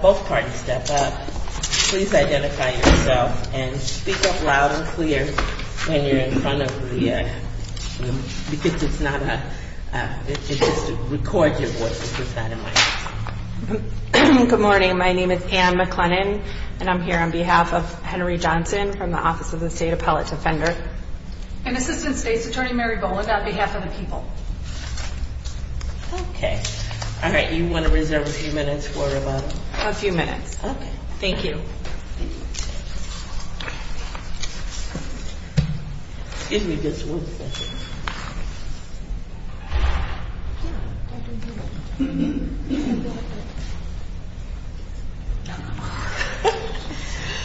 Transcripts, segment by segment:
Both parties step up. Please identify yourself and speak up loud and clear when you're in front of the, because it's not a, it just records your voice, it's not a mic. Good morning. My name is Ann McLennan and I'm here on behalf of Henry Johnson from the Office of the State Appellate Defender. And Assistant State's Attorney Mary Bowland on behalf of the people. Okay. All right. You want to reserve a few minutes for about... A few minutes. Okay. Thank you. Excuse me just one second.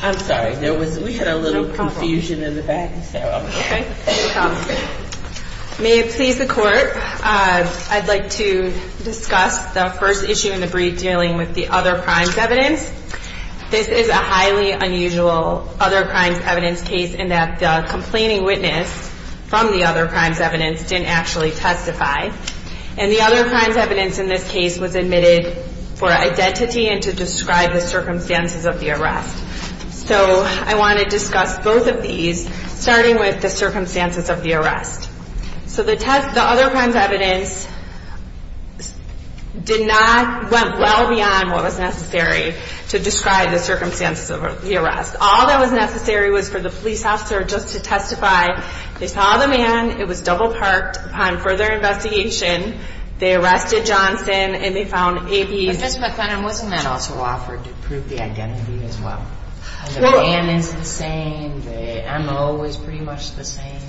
I'm sorry. There was, we had a little confusion in the back. Okay. May it please the court, I'd like to discuss the first issue in the brief dealing with the other crimes evidence. This is a highly unusual other crimes evidence case in that the complaining witness from the other crimes evidence didn't actually testify. And the other crimes evidence in this case was admitted for identity and to describe the circumstances of the arrest. So I want to discuss both of these, starting with the circumstances of the arrest. So the other crimes evidence did not, went well beyond what was necessary to describe the circumstances of the arrest. All that was necessary was for the police officer just to testify. They saw the man, it was double parked. Upon further investigation, they arrested Johnson and they found AP's... The man is the same. The MO is pretty much the same.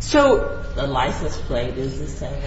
So... The license plate is the same.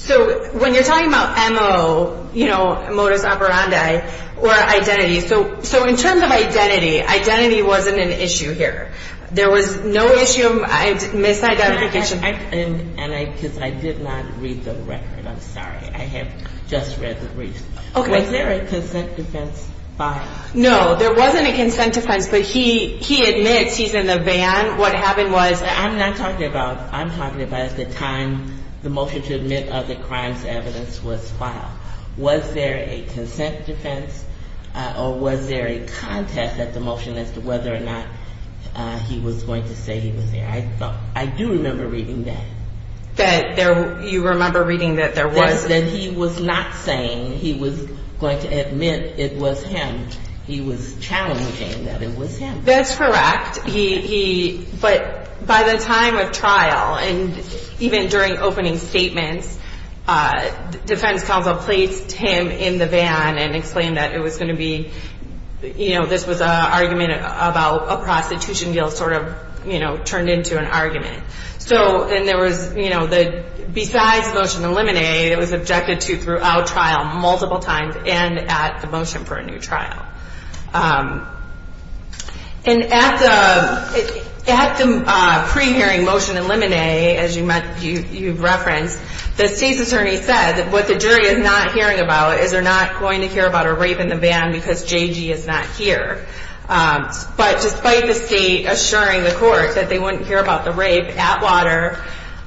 So when you're talking about MO, you know, modus operandi, or identity, so in terms of identity, identity wasn't an issue here. There was no issue of misidentification. And I, because I did not read the record, I'm sorry. I have just read the brief. Okay. Was there a consent defense file? No, there wasn't a consent defense, but he admits he's in the van. What happened was... I'm not talking about, I'm talking about the time the motion to admit other crimes evidence was filed. Was there a consent defense or was there a contest at the motion as to whether or not he was going to say he was there? I thought, I do remember reading that. That there, you remember reading that there was... And that he was not saying he was going to admit it was him. He was challenging that it was him. That's correct. He, but by the time of trial and even during opening statements, defense counsel placed him in the van and explained that it was going to be, you know, this was an argument about a prostitution deal sort of, you know, turned into an argument. So, and there was, you know, besides the motion to eliminate, it was objected to throughout trial multiple times and at the motion for a new trial. And at the pre-hearing motion to eliminate, as you referenced, the state's attorney said that what the jury is not hearing about is they're not going to hear about a rape in the van because JG is not here. But despite the state assuring the court that they wouldn't hear about the rape, Atwater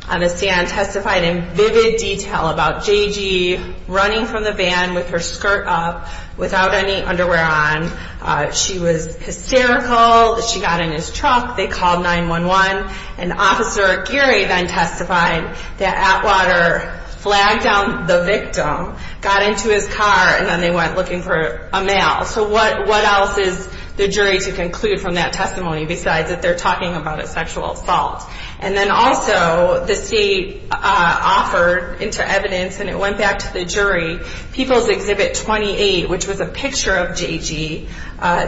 on the stand testified in vivid detail about JG running from the van with her skirt up, without any underwear on. She was hysterical. She got in his truck. They called 911. And Officer Geary then testified that Atwater flagged down the victim, got into his car, and then they went looking for a male. So what else is the jury to conclude from that testimony besides that they're talking about a sexual assault? And then also the state offered into evidence, and it went back to the jury, People's Exhibit 28, which was a picture of JG.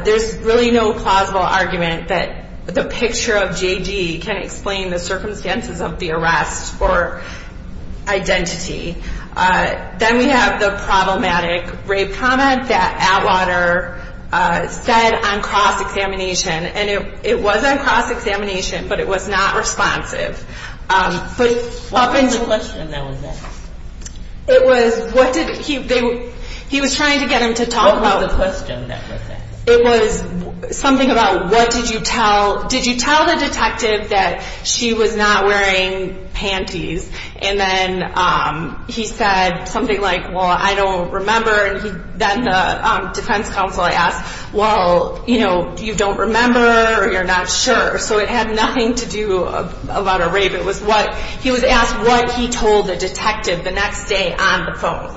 There's really no plausible argument that the picture of JG can explain the circumstances of the arrest or identity. Then we have the problematic rape comment that Atwater said on cross-examination. And it was on cross-examination, but it was not responsive. What was the question that was asked? It was, what did, he was trying to get him to talk about What was the question that was asked? It was something about what did you tell, did you tell the detective that she was not wearing panties? And then he said something like, well, I don't remember. And then the defense counsel asked, well, you know, you don't remember or you're not sure. So it had nothing to do about a rape. It was what, he was asked what he told the detective the next day on the phone.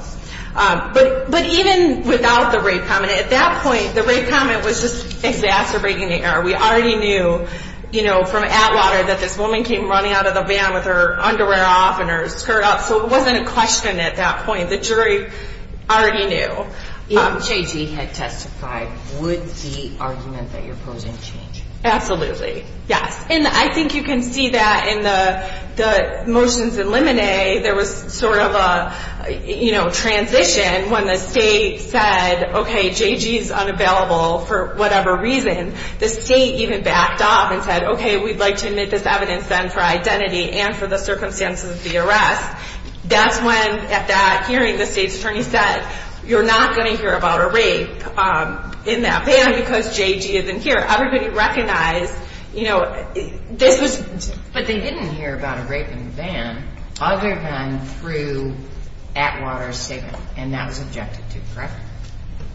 But even without the rape comment, at that point, the rape comment was just exacerbating the error. We already knew, you know, from Atwater that this woman came running out of the van with her underwear off and her skirt up. So it wasn't a question at that point. The jury already knew. If JG had testified, would the argument that you're posing change? Absolutely, yes. And I think you can see that in the motions in Lemonade, there was sort of a, you know, transition when the state said, okay, JG's unavailable for whatever reason. The state even backed off and said, okay, we'd like to admit this evidence then for identity and for the circumstances of the arrest. That's when, at that hearing, the state's attorney said, you're not going to hear about a rape in that van because JG isn't here. Everybody recognized, you know, this was... But they didn't hear about a rape in the van other than through Atwater's statement. And that was objected to, correct?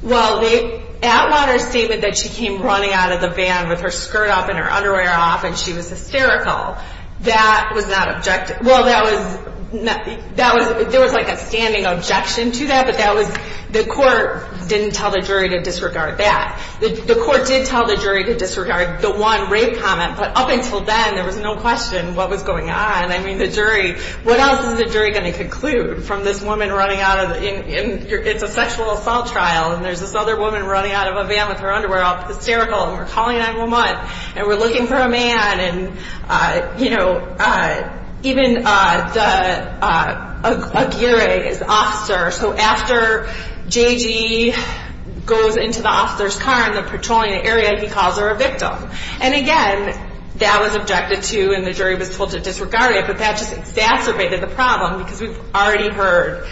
Well, Atwater's statement that she came running out of the van with her skirt up and her underwear off and she was hysterical, that was not objected... Well, that was... There was, like, a standing objection to that, but that was... The court didn't tell the jury to disregard that. The court did tell the jury to disregard the one rape comment, but up until then, there was no question what was going on. I mean, the jury... What else is the jury going to conclude from this woman running out of... It's a sexual assault trial, and there's this other woman running out of a van with her underwear off, hysterical, and we're calling 911, and we're looking for a man, and, you know... Even the... Aguirre is the officer, so after JG goes into the officer's car in the petroleum area, he calls her a victim. And, again, that was objected to, and the jury was told to disregard it, but that just exacerbated the problem, because we've already heard,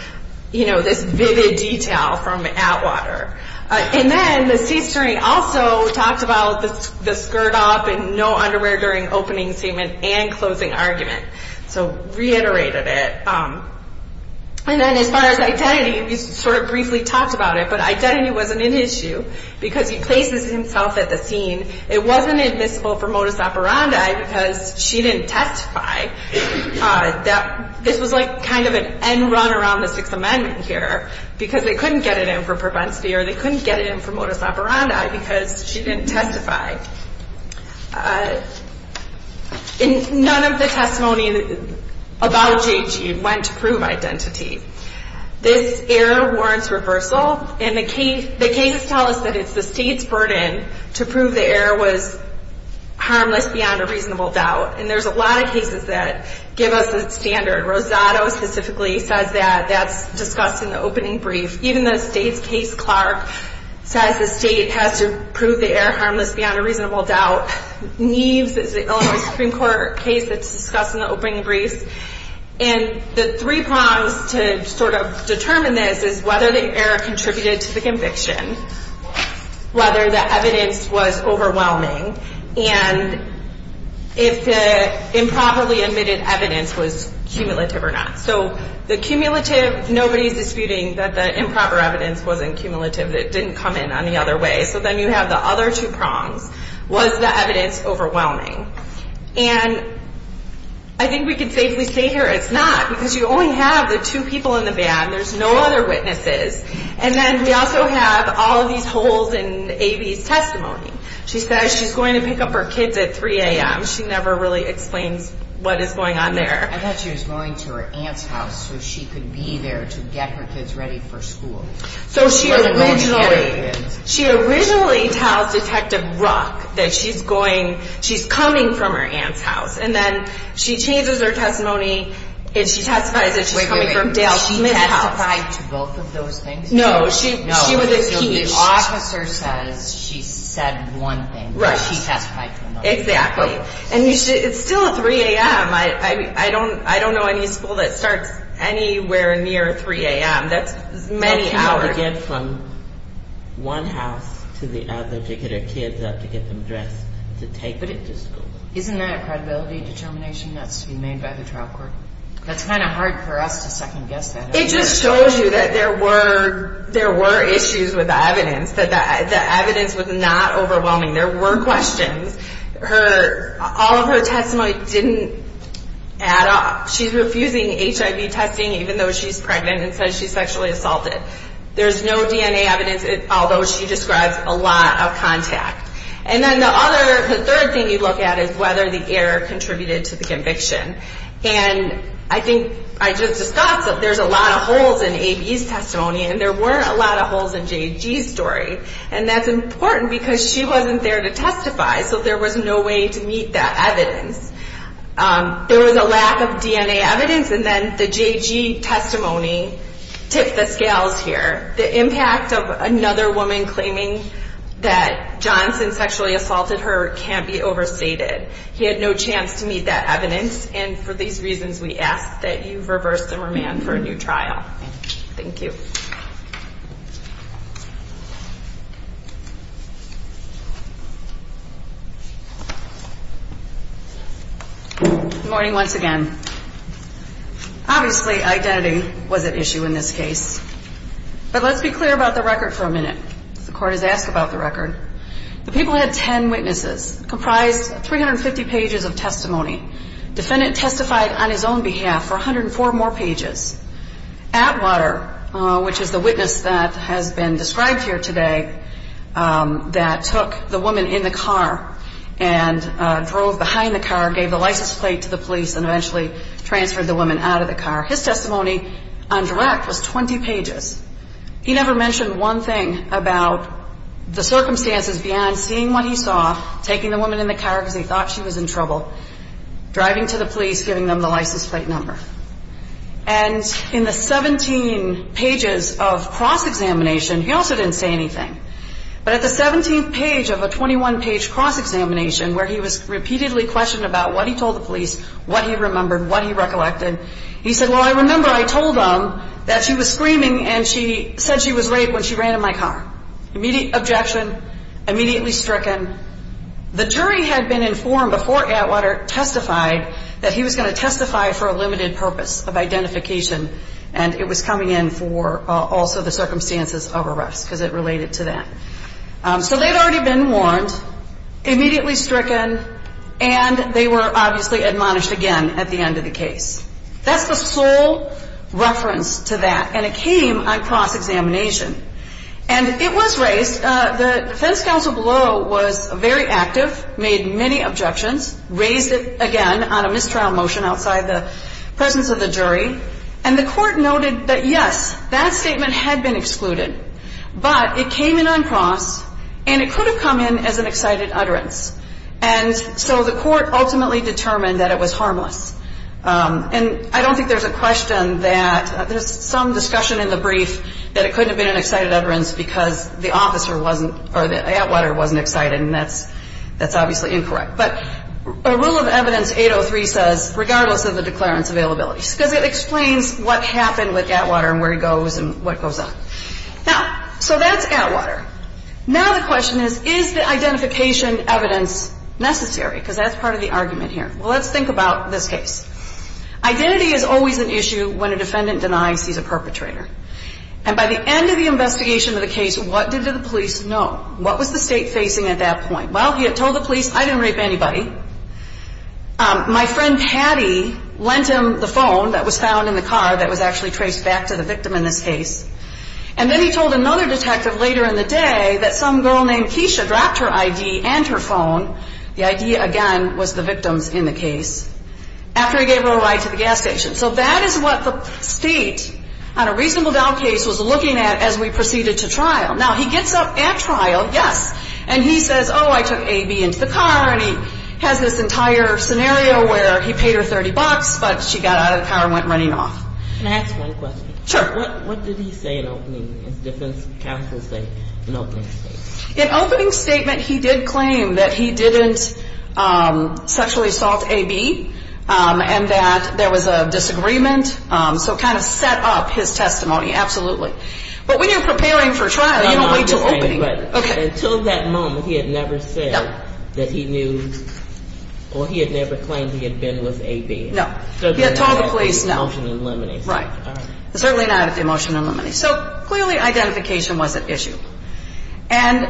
you know, this vivid detail from Atwater. And then the C-story also talked about the skirt up and no underwear during opening statement and closing argument, so reiterated it. And then, as far as identity, we sort of briefly talked about it, but identity wasn't an issue, because he places himself at the scene. It wasn't admissible for modus operandi because she didn't testify. This was like kind of an end run around the Sixth Amendment here, because they couldn't get it in for propensity or they couldn't get it in for modus operandi because she didn't testify. None of the testimony about JG went to prove identity. This error warrants reversal, and the cases tell us that it's the state's burden to prove the error was harmless beyond a reasonable doubt. And there's a lot of cases that give us that standard. Rosado specifically says that. That's discussed in the opening brief. Even the state's case, Clark, says the state has to prove the error harmless beyond a reasonable doubt. Neves is the Illinois Supreme Court case that's discussed in the opening brief. And the three prongs to sort of determine this is whether the error contributed to the conviction, whether the evidence was overwhelming, and if the improperly admitted evidence was cumulative or not. So the cumulative, nobody's disputing that the improper evidence wasn't cumulative, that it didn't come in any other way. So then you have the other two prongs. Was the evidence overwhelming? And I think we can safely say here it's not, because you only have the two people in the band. There's no other witnesses. And then we also have all of these holes in A.B.'s testimony. She says she's going to pick up her kids at 3 a.m. She never really explains what is going on there. I thought she was going to her aunt's house so she could be there to get her kids ready for school. So she originally tells Detective Ruck that she's coming from her aunt's house. And then she changes her testimony and she testifies that she's coming from Dale Smith's house. Wait, wait, wait. She testified to both of those things? No, she was impeached. No, the officer says she said one thing, but she testified to another. Exactly. And it's still 3 a.m. I don't know any school that starts anywhere near 3 a.m. That's many hours. That's how they get from one house to the other to get her kids up to get them dressed to take them to school. Isn't that a credibility determination that's to be made by the trial court? That's kind of hard for us to second-guess that. It just shows you that there were issues with the evidence, that the evidence was not overwhelming. There were questions. All of her testimony didn't add up. She's refusing HIV testing even though she's pregnant and says she's sexually assaulted. There's no DNA evidence, although she describes a lot of contact. And then the other, the third thing you look at is whether the error contributed to the conviction. And I think I just discussed that there's a lot of holes in A.B.'s testimony, and there weren't a lot of holes in J.G.'s story. And that's important because she wasn't there to testify, so there was no way to meet that evidence. There was a lack of DNA evidence, and then the J.G. testimony tipped the scales here. The impact of another woman claiming that Johnson sexually assaulted her can't be overstated. He had no chance to meet that evidence, and for these reasons we ask that you reverse the remand for a new trial. Thank you. Good morning once again. Obviously, identity was at issue in this case. But let's be clear about the record for a minute. The court has asked about the record. The people had 10 witnesses, comprised 350 pages of testimony. Defendant testified on his own behalf for 104 more pages. Atwater, which is the witness that has been described here today, that took the woman in the car and drove behind the car, gave the license plate to the police, and eventually transferred the woman out of the car. His testimony on direct was 20 pages. He never mentioned one thing about the circumstances beyond seeing what he saw, taking the woman in the car because he thought she was in trouble, driving to the police, giving them the license plate number. And in the 17 pages of cross-examination, he also didn't say anything. But at the 17th page of a 21-page cross-examination, where he was repeatedly questioned about what he told the police, what he remembered, what he recollected, he said, well, I remember I told them that she was screaming and she said she was raped when she ran in my car. Immediate objection, immediately stricken. The jury had been informed before Atwater testified that he was going to testify for a limited purpose of identification, and it was coming in for also the circumstances of arrest because it related to that. So they'd already been warned, immediately stricken, and they were obviously admonished again at the end of the case. That's the sole reference to that, and it came on cross-examination. And it was raised, the defense counsel below was very active, made many objections, raised it again on a mistrial motion outside the presence of the jury, and the court noted that, yes, that statement had been excluded, but it came in on cross and it could have come in as an excited utterance. And so the court ultimately determined that it was harmless. And I don't think there's a question that there's some discussion in the brief that it could have been an excited utterance because the officer wasn't, or Atwater wasn't excited, and that's obviously incorrect. But a rule of evidence 803 says, regardless of the declarant's availability, because it explains what happened with Atwater and where he goes and what goes on. Now, so that's Atwater. Now the question is, is the identification evidence necessary? Because that's part of the argument here. Well, let's think about this case. Identity is always an issue when a defendant denies he's a perpetrator. And by the end of the investigation of the case, what did the police know? What was the state facing at that point? Well, he had told the police, I didn't rape anybody. My friend Patty lent him the phone that was found in the car that was actually traced back to the victim in this case. And then he told another detective later in the day that some girl named Keisha dropped her ID and her phone. The ID, again, was the victim's in the case. After he gave her a ride to the gas station. So that is what the state, on a reasonable doubt case, was looking at as we proceeded to trial. Now, he gets up at trial, yes, and he says, oh, I took A.B. into the car. And he has this entire scenario where he paid her 30 bucks, but she got out of the car and went running off. Can I ask one question? Sure. What did he say in opening, as defense counsels say, in opening statement? In opening statement, he did claim that he didn't sexually assault A.B. and that there was a disagreement. So kind of set up his testimony, absolutely. But when you're preparing for trial, you don't wait until opening. But until that moment, he had never said that he knew or he had never claimed he had been with A.B. No. He had told the police no. Emotion and limine. Right. Certainly not emotion and limine. So clearly identification was at issue. And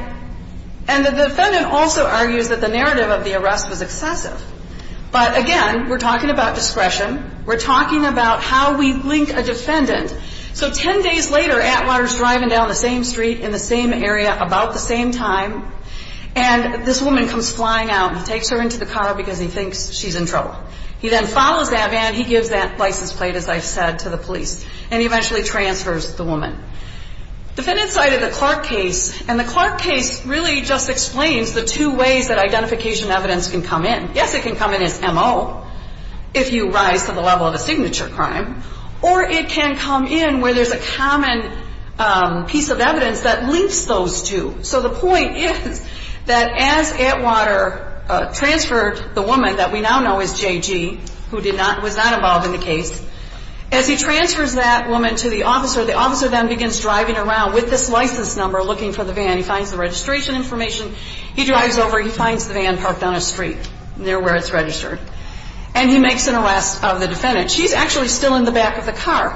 the defendant also argues that the narrative of the arrest was excessive. But, again, we're talking about discretion. We're talking about how we link a defendant. So ten days later, Atwater's driving down the same street in the same area, about the same time, and this woman comes flying out. He takes her into the car because he thinks she's in trouble. He then follows that man. He gives that license plate, as I've said, to the police. And he eventually transfers the woman. Defendants cited the Clark case, and the Clark case really just explains the two ways that identification evidence can come in. Yes, it can come in as M.O. if you rise to the level of a signature crime. Or it can come in where there's a common piece of evidence that links those two. So the point is that as Atwater transferred the woman that we now know as J.G., who was not involved in the case, as he transfers that woman to the officer, the officer then begins driving around with this license number looking for the van. He finds the registration information. He drives over. He finds the van parked on a street near where it's registered. And he makes an arrest of the defendant. She's actually still in the back of the car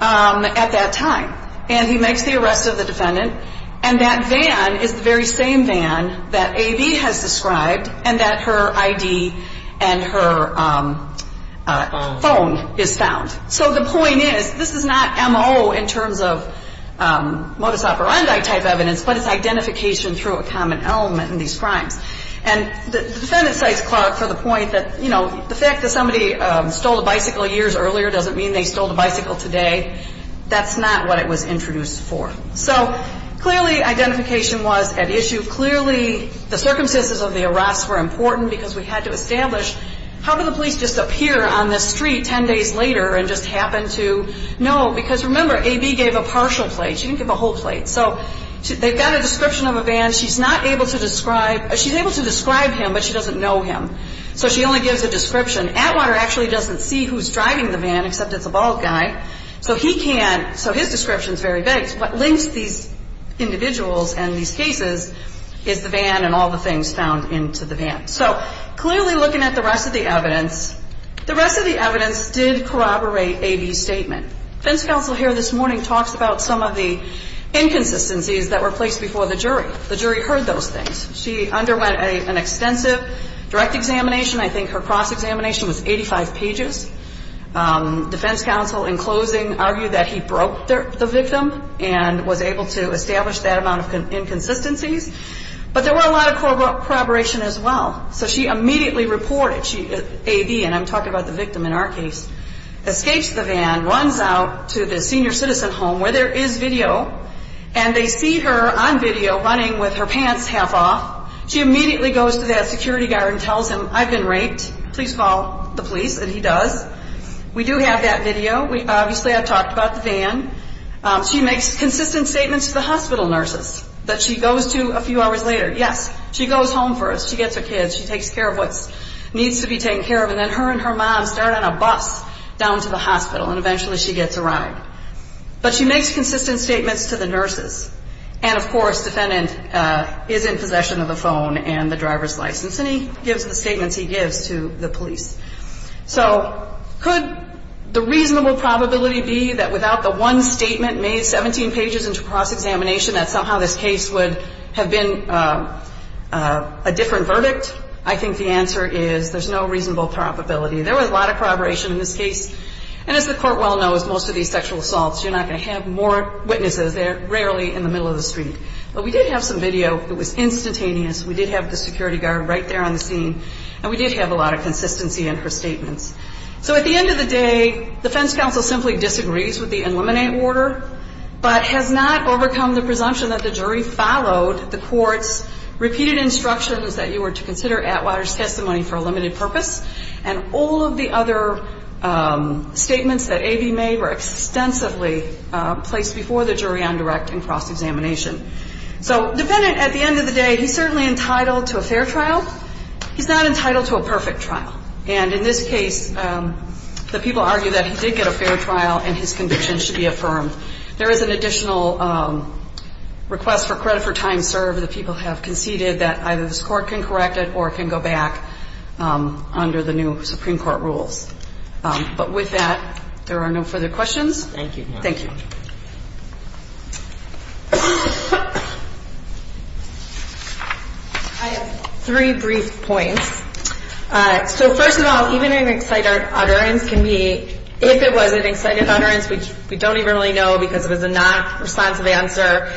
at that time. And he makes the arrest of the defendant. And that van is the very same van that A.B. has described and that her I.D. and her phone is found. So the point is this is not M.O. in terms of modus operandi type evidence, but it's identification through a common element in these crimes. And the defendant cites Clark for the point that, you know, the fact that somebody stole a bicycle years earlier doesn't mean they stole a bicycle today. That's not what it was introduced for. So clearly identification was at issue. Clearly the circumstances of the arrest were important because we had to establish how could the police just appear on the street 10 days later and just happen to know? Because remember, A.B. gave a partial plate. She didn't give a whole plate. So they've got a description of a van. She's not able to describe – she's able to describe him, but she doesn't know him. So she only gives a description. Atwater actually doesn't see who's driving the van except it's a bald guy. So he can't – so his description is very vague. What links these individuals and these cases is the van and all the things found into the van. So clearly looking at the rest of the evidence, the rest of the evidence did corroborate A.B.'s statement. Defense counsel here this morning talks about some of the inconsistencies that were placed before the jury. The jury heard those things. She underwent an extensive direct examination. I think her cross-examination was 85 pages. Defense counsel in closing argued that he broke the victim and was able to establish that amount of inconsistencies. But there were a lot of corroboration as well. So she immediately reported. A.B., and I'm talking about the victim in our case, escapes the van, runs out to the senior citizen home where there is video, and they see her on video running with her pants half off. She immediately goes to that security guard and tells him, I've been raped, please call the police, and he does. We do have that video. Obviously I've talked about the van. She makes consistent statements to the hospital nurses that she goes to a few hours later. Yes. She goes home first. She gets her kids. She takes care of what needs to be taken care of, and then her and her mom start on a bus down to the hospital, and eventually she gets a ride. But she makes consistent statements to the nurses. And, of course, defendant is in possession of the phone and the driver's license, and he gives the statements he gives to the police. So could the reasonable probability be that without the one statement made, 17 pages into cross-examination, that somehow this case would have been a different verdict? I think the answer is there's no reasonable probability. There was a lot of corroboration in this case. And as the Court well knows, most of these sexual assaults, you're not going to have more witnesses. They're rarely in the middle of the street. But we did have some video. It was instantaneous. We did have the security guard right there on the scene, and we did have a lot of consistency in her statements. So at the end of the day, defense counsel simply disagrees with the eliminate order, but has not overcome the presumption that the jury followed the court's repeated instructions that you were to consider Atwater's testimony for a limited purpose. And all of the other statements that A.B. made were extensively placed before the jury on direct and cross-examination. So defendant, at the end of the day, he's certainly entitled to a fair trial. He's not entitled to a perfect trial. And in this case, the people argue that he did get a fair trial and his conviction should be affirmed. There is an additional request for credit for time served. The people have conceded that either this Court can correct it or it can go back under the new Supreme Court rules. But with that, there are no further questions. Thank you. Thank you. I have three brief points. So first of all, even an excited utterance can be, if it was an excited utterance, which we don't even really know because it was a non-responsive answer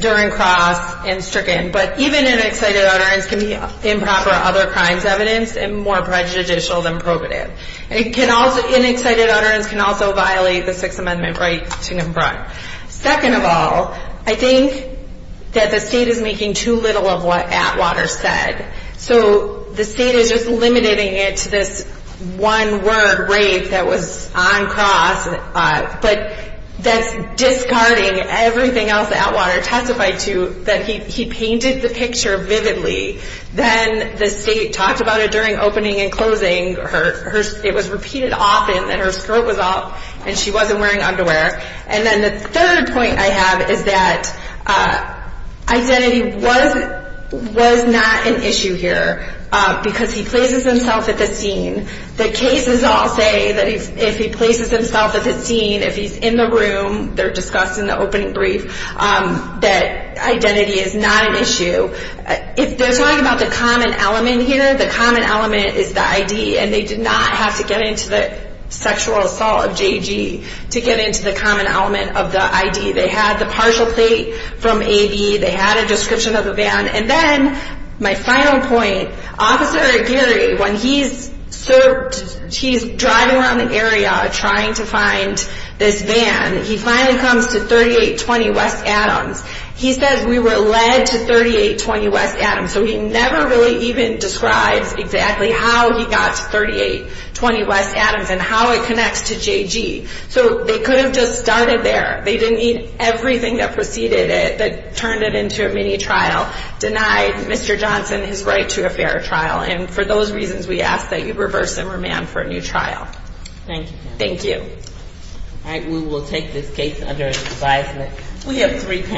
during cross and stricken, but even an excited utterance can be improper other crimes evidence and more prejudicial than probative. An excited utterance can also violate the Sixth Amendment right to confront. Second of all, I think that the State is making too little of what Atwater said. So the State is just limiting it to this one rape that was on cross, but that's discarding everything else that Atwater testified to, that he painted the picture vividly. Then the State talked about it during opening and closing. It was repeated often that her skirt was up and she wasn't wearing underwear. And then the third point I have is that identity was not an issue here because he places himself at the scene. The cases all say that if he places himself at the scene, if he's in the room, they're discussed in the opening brief, that identity is not an issue. If they're talking about the common element here, the common element is the ID, and they did not have to get into the sexual assault of J.G. to get into the common element of the ID. They had the partial plate from A.V. They had a description of the van. And then my final point, Officer Aguirre, when he's driving around the area trying to find this van, he finally comes to 3820 West Adams. He says, we were led to 3820 West Adams. So he never really even describes exactly how he got to 3820 West Adams and how it connects to J.G. So they could have just started there. They didn't need everything that preceded it that turned it into a mini trial, denied Mr. Johnson his right to a fair trial. And for those reasons, we ask that you reverse and remand for a new trial. Thank you. All right, we will take this case under advisement.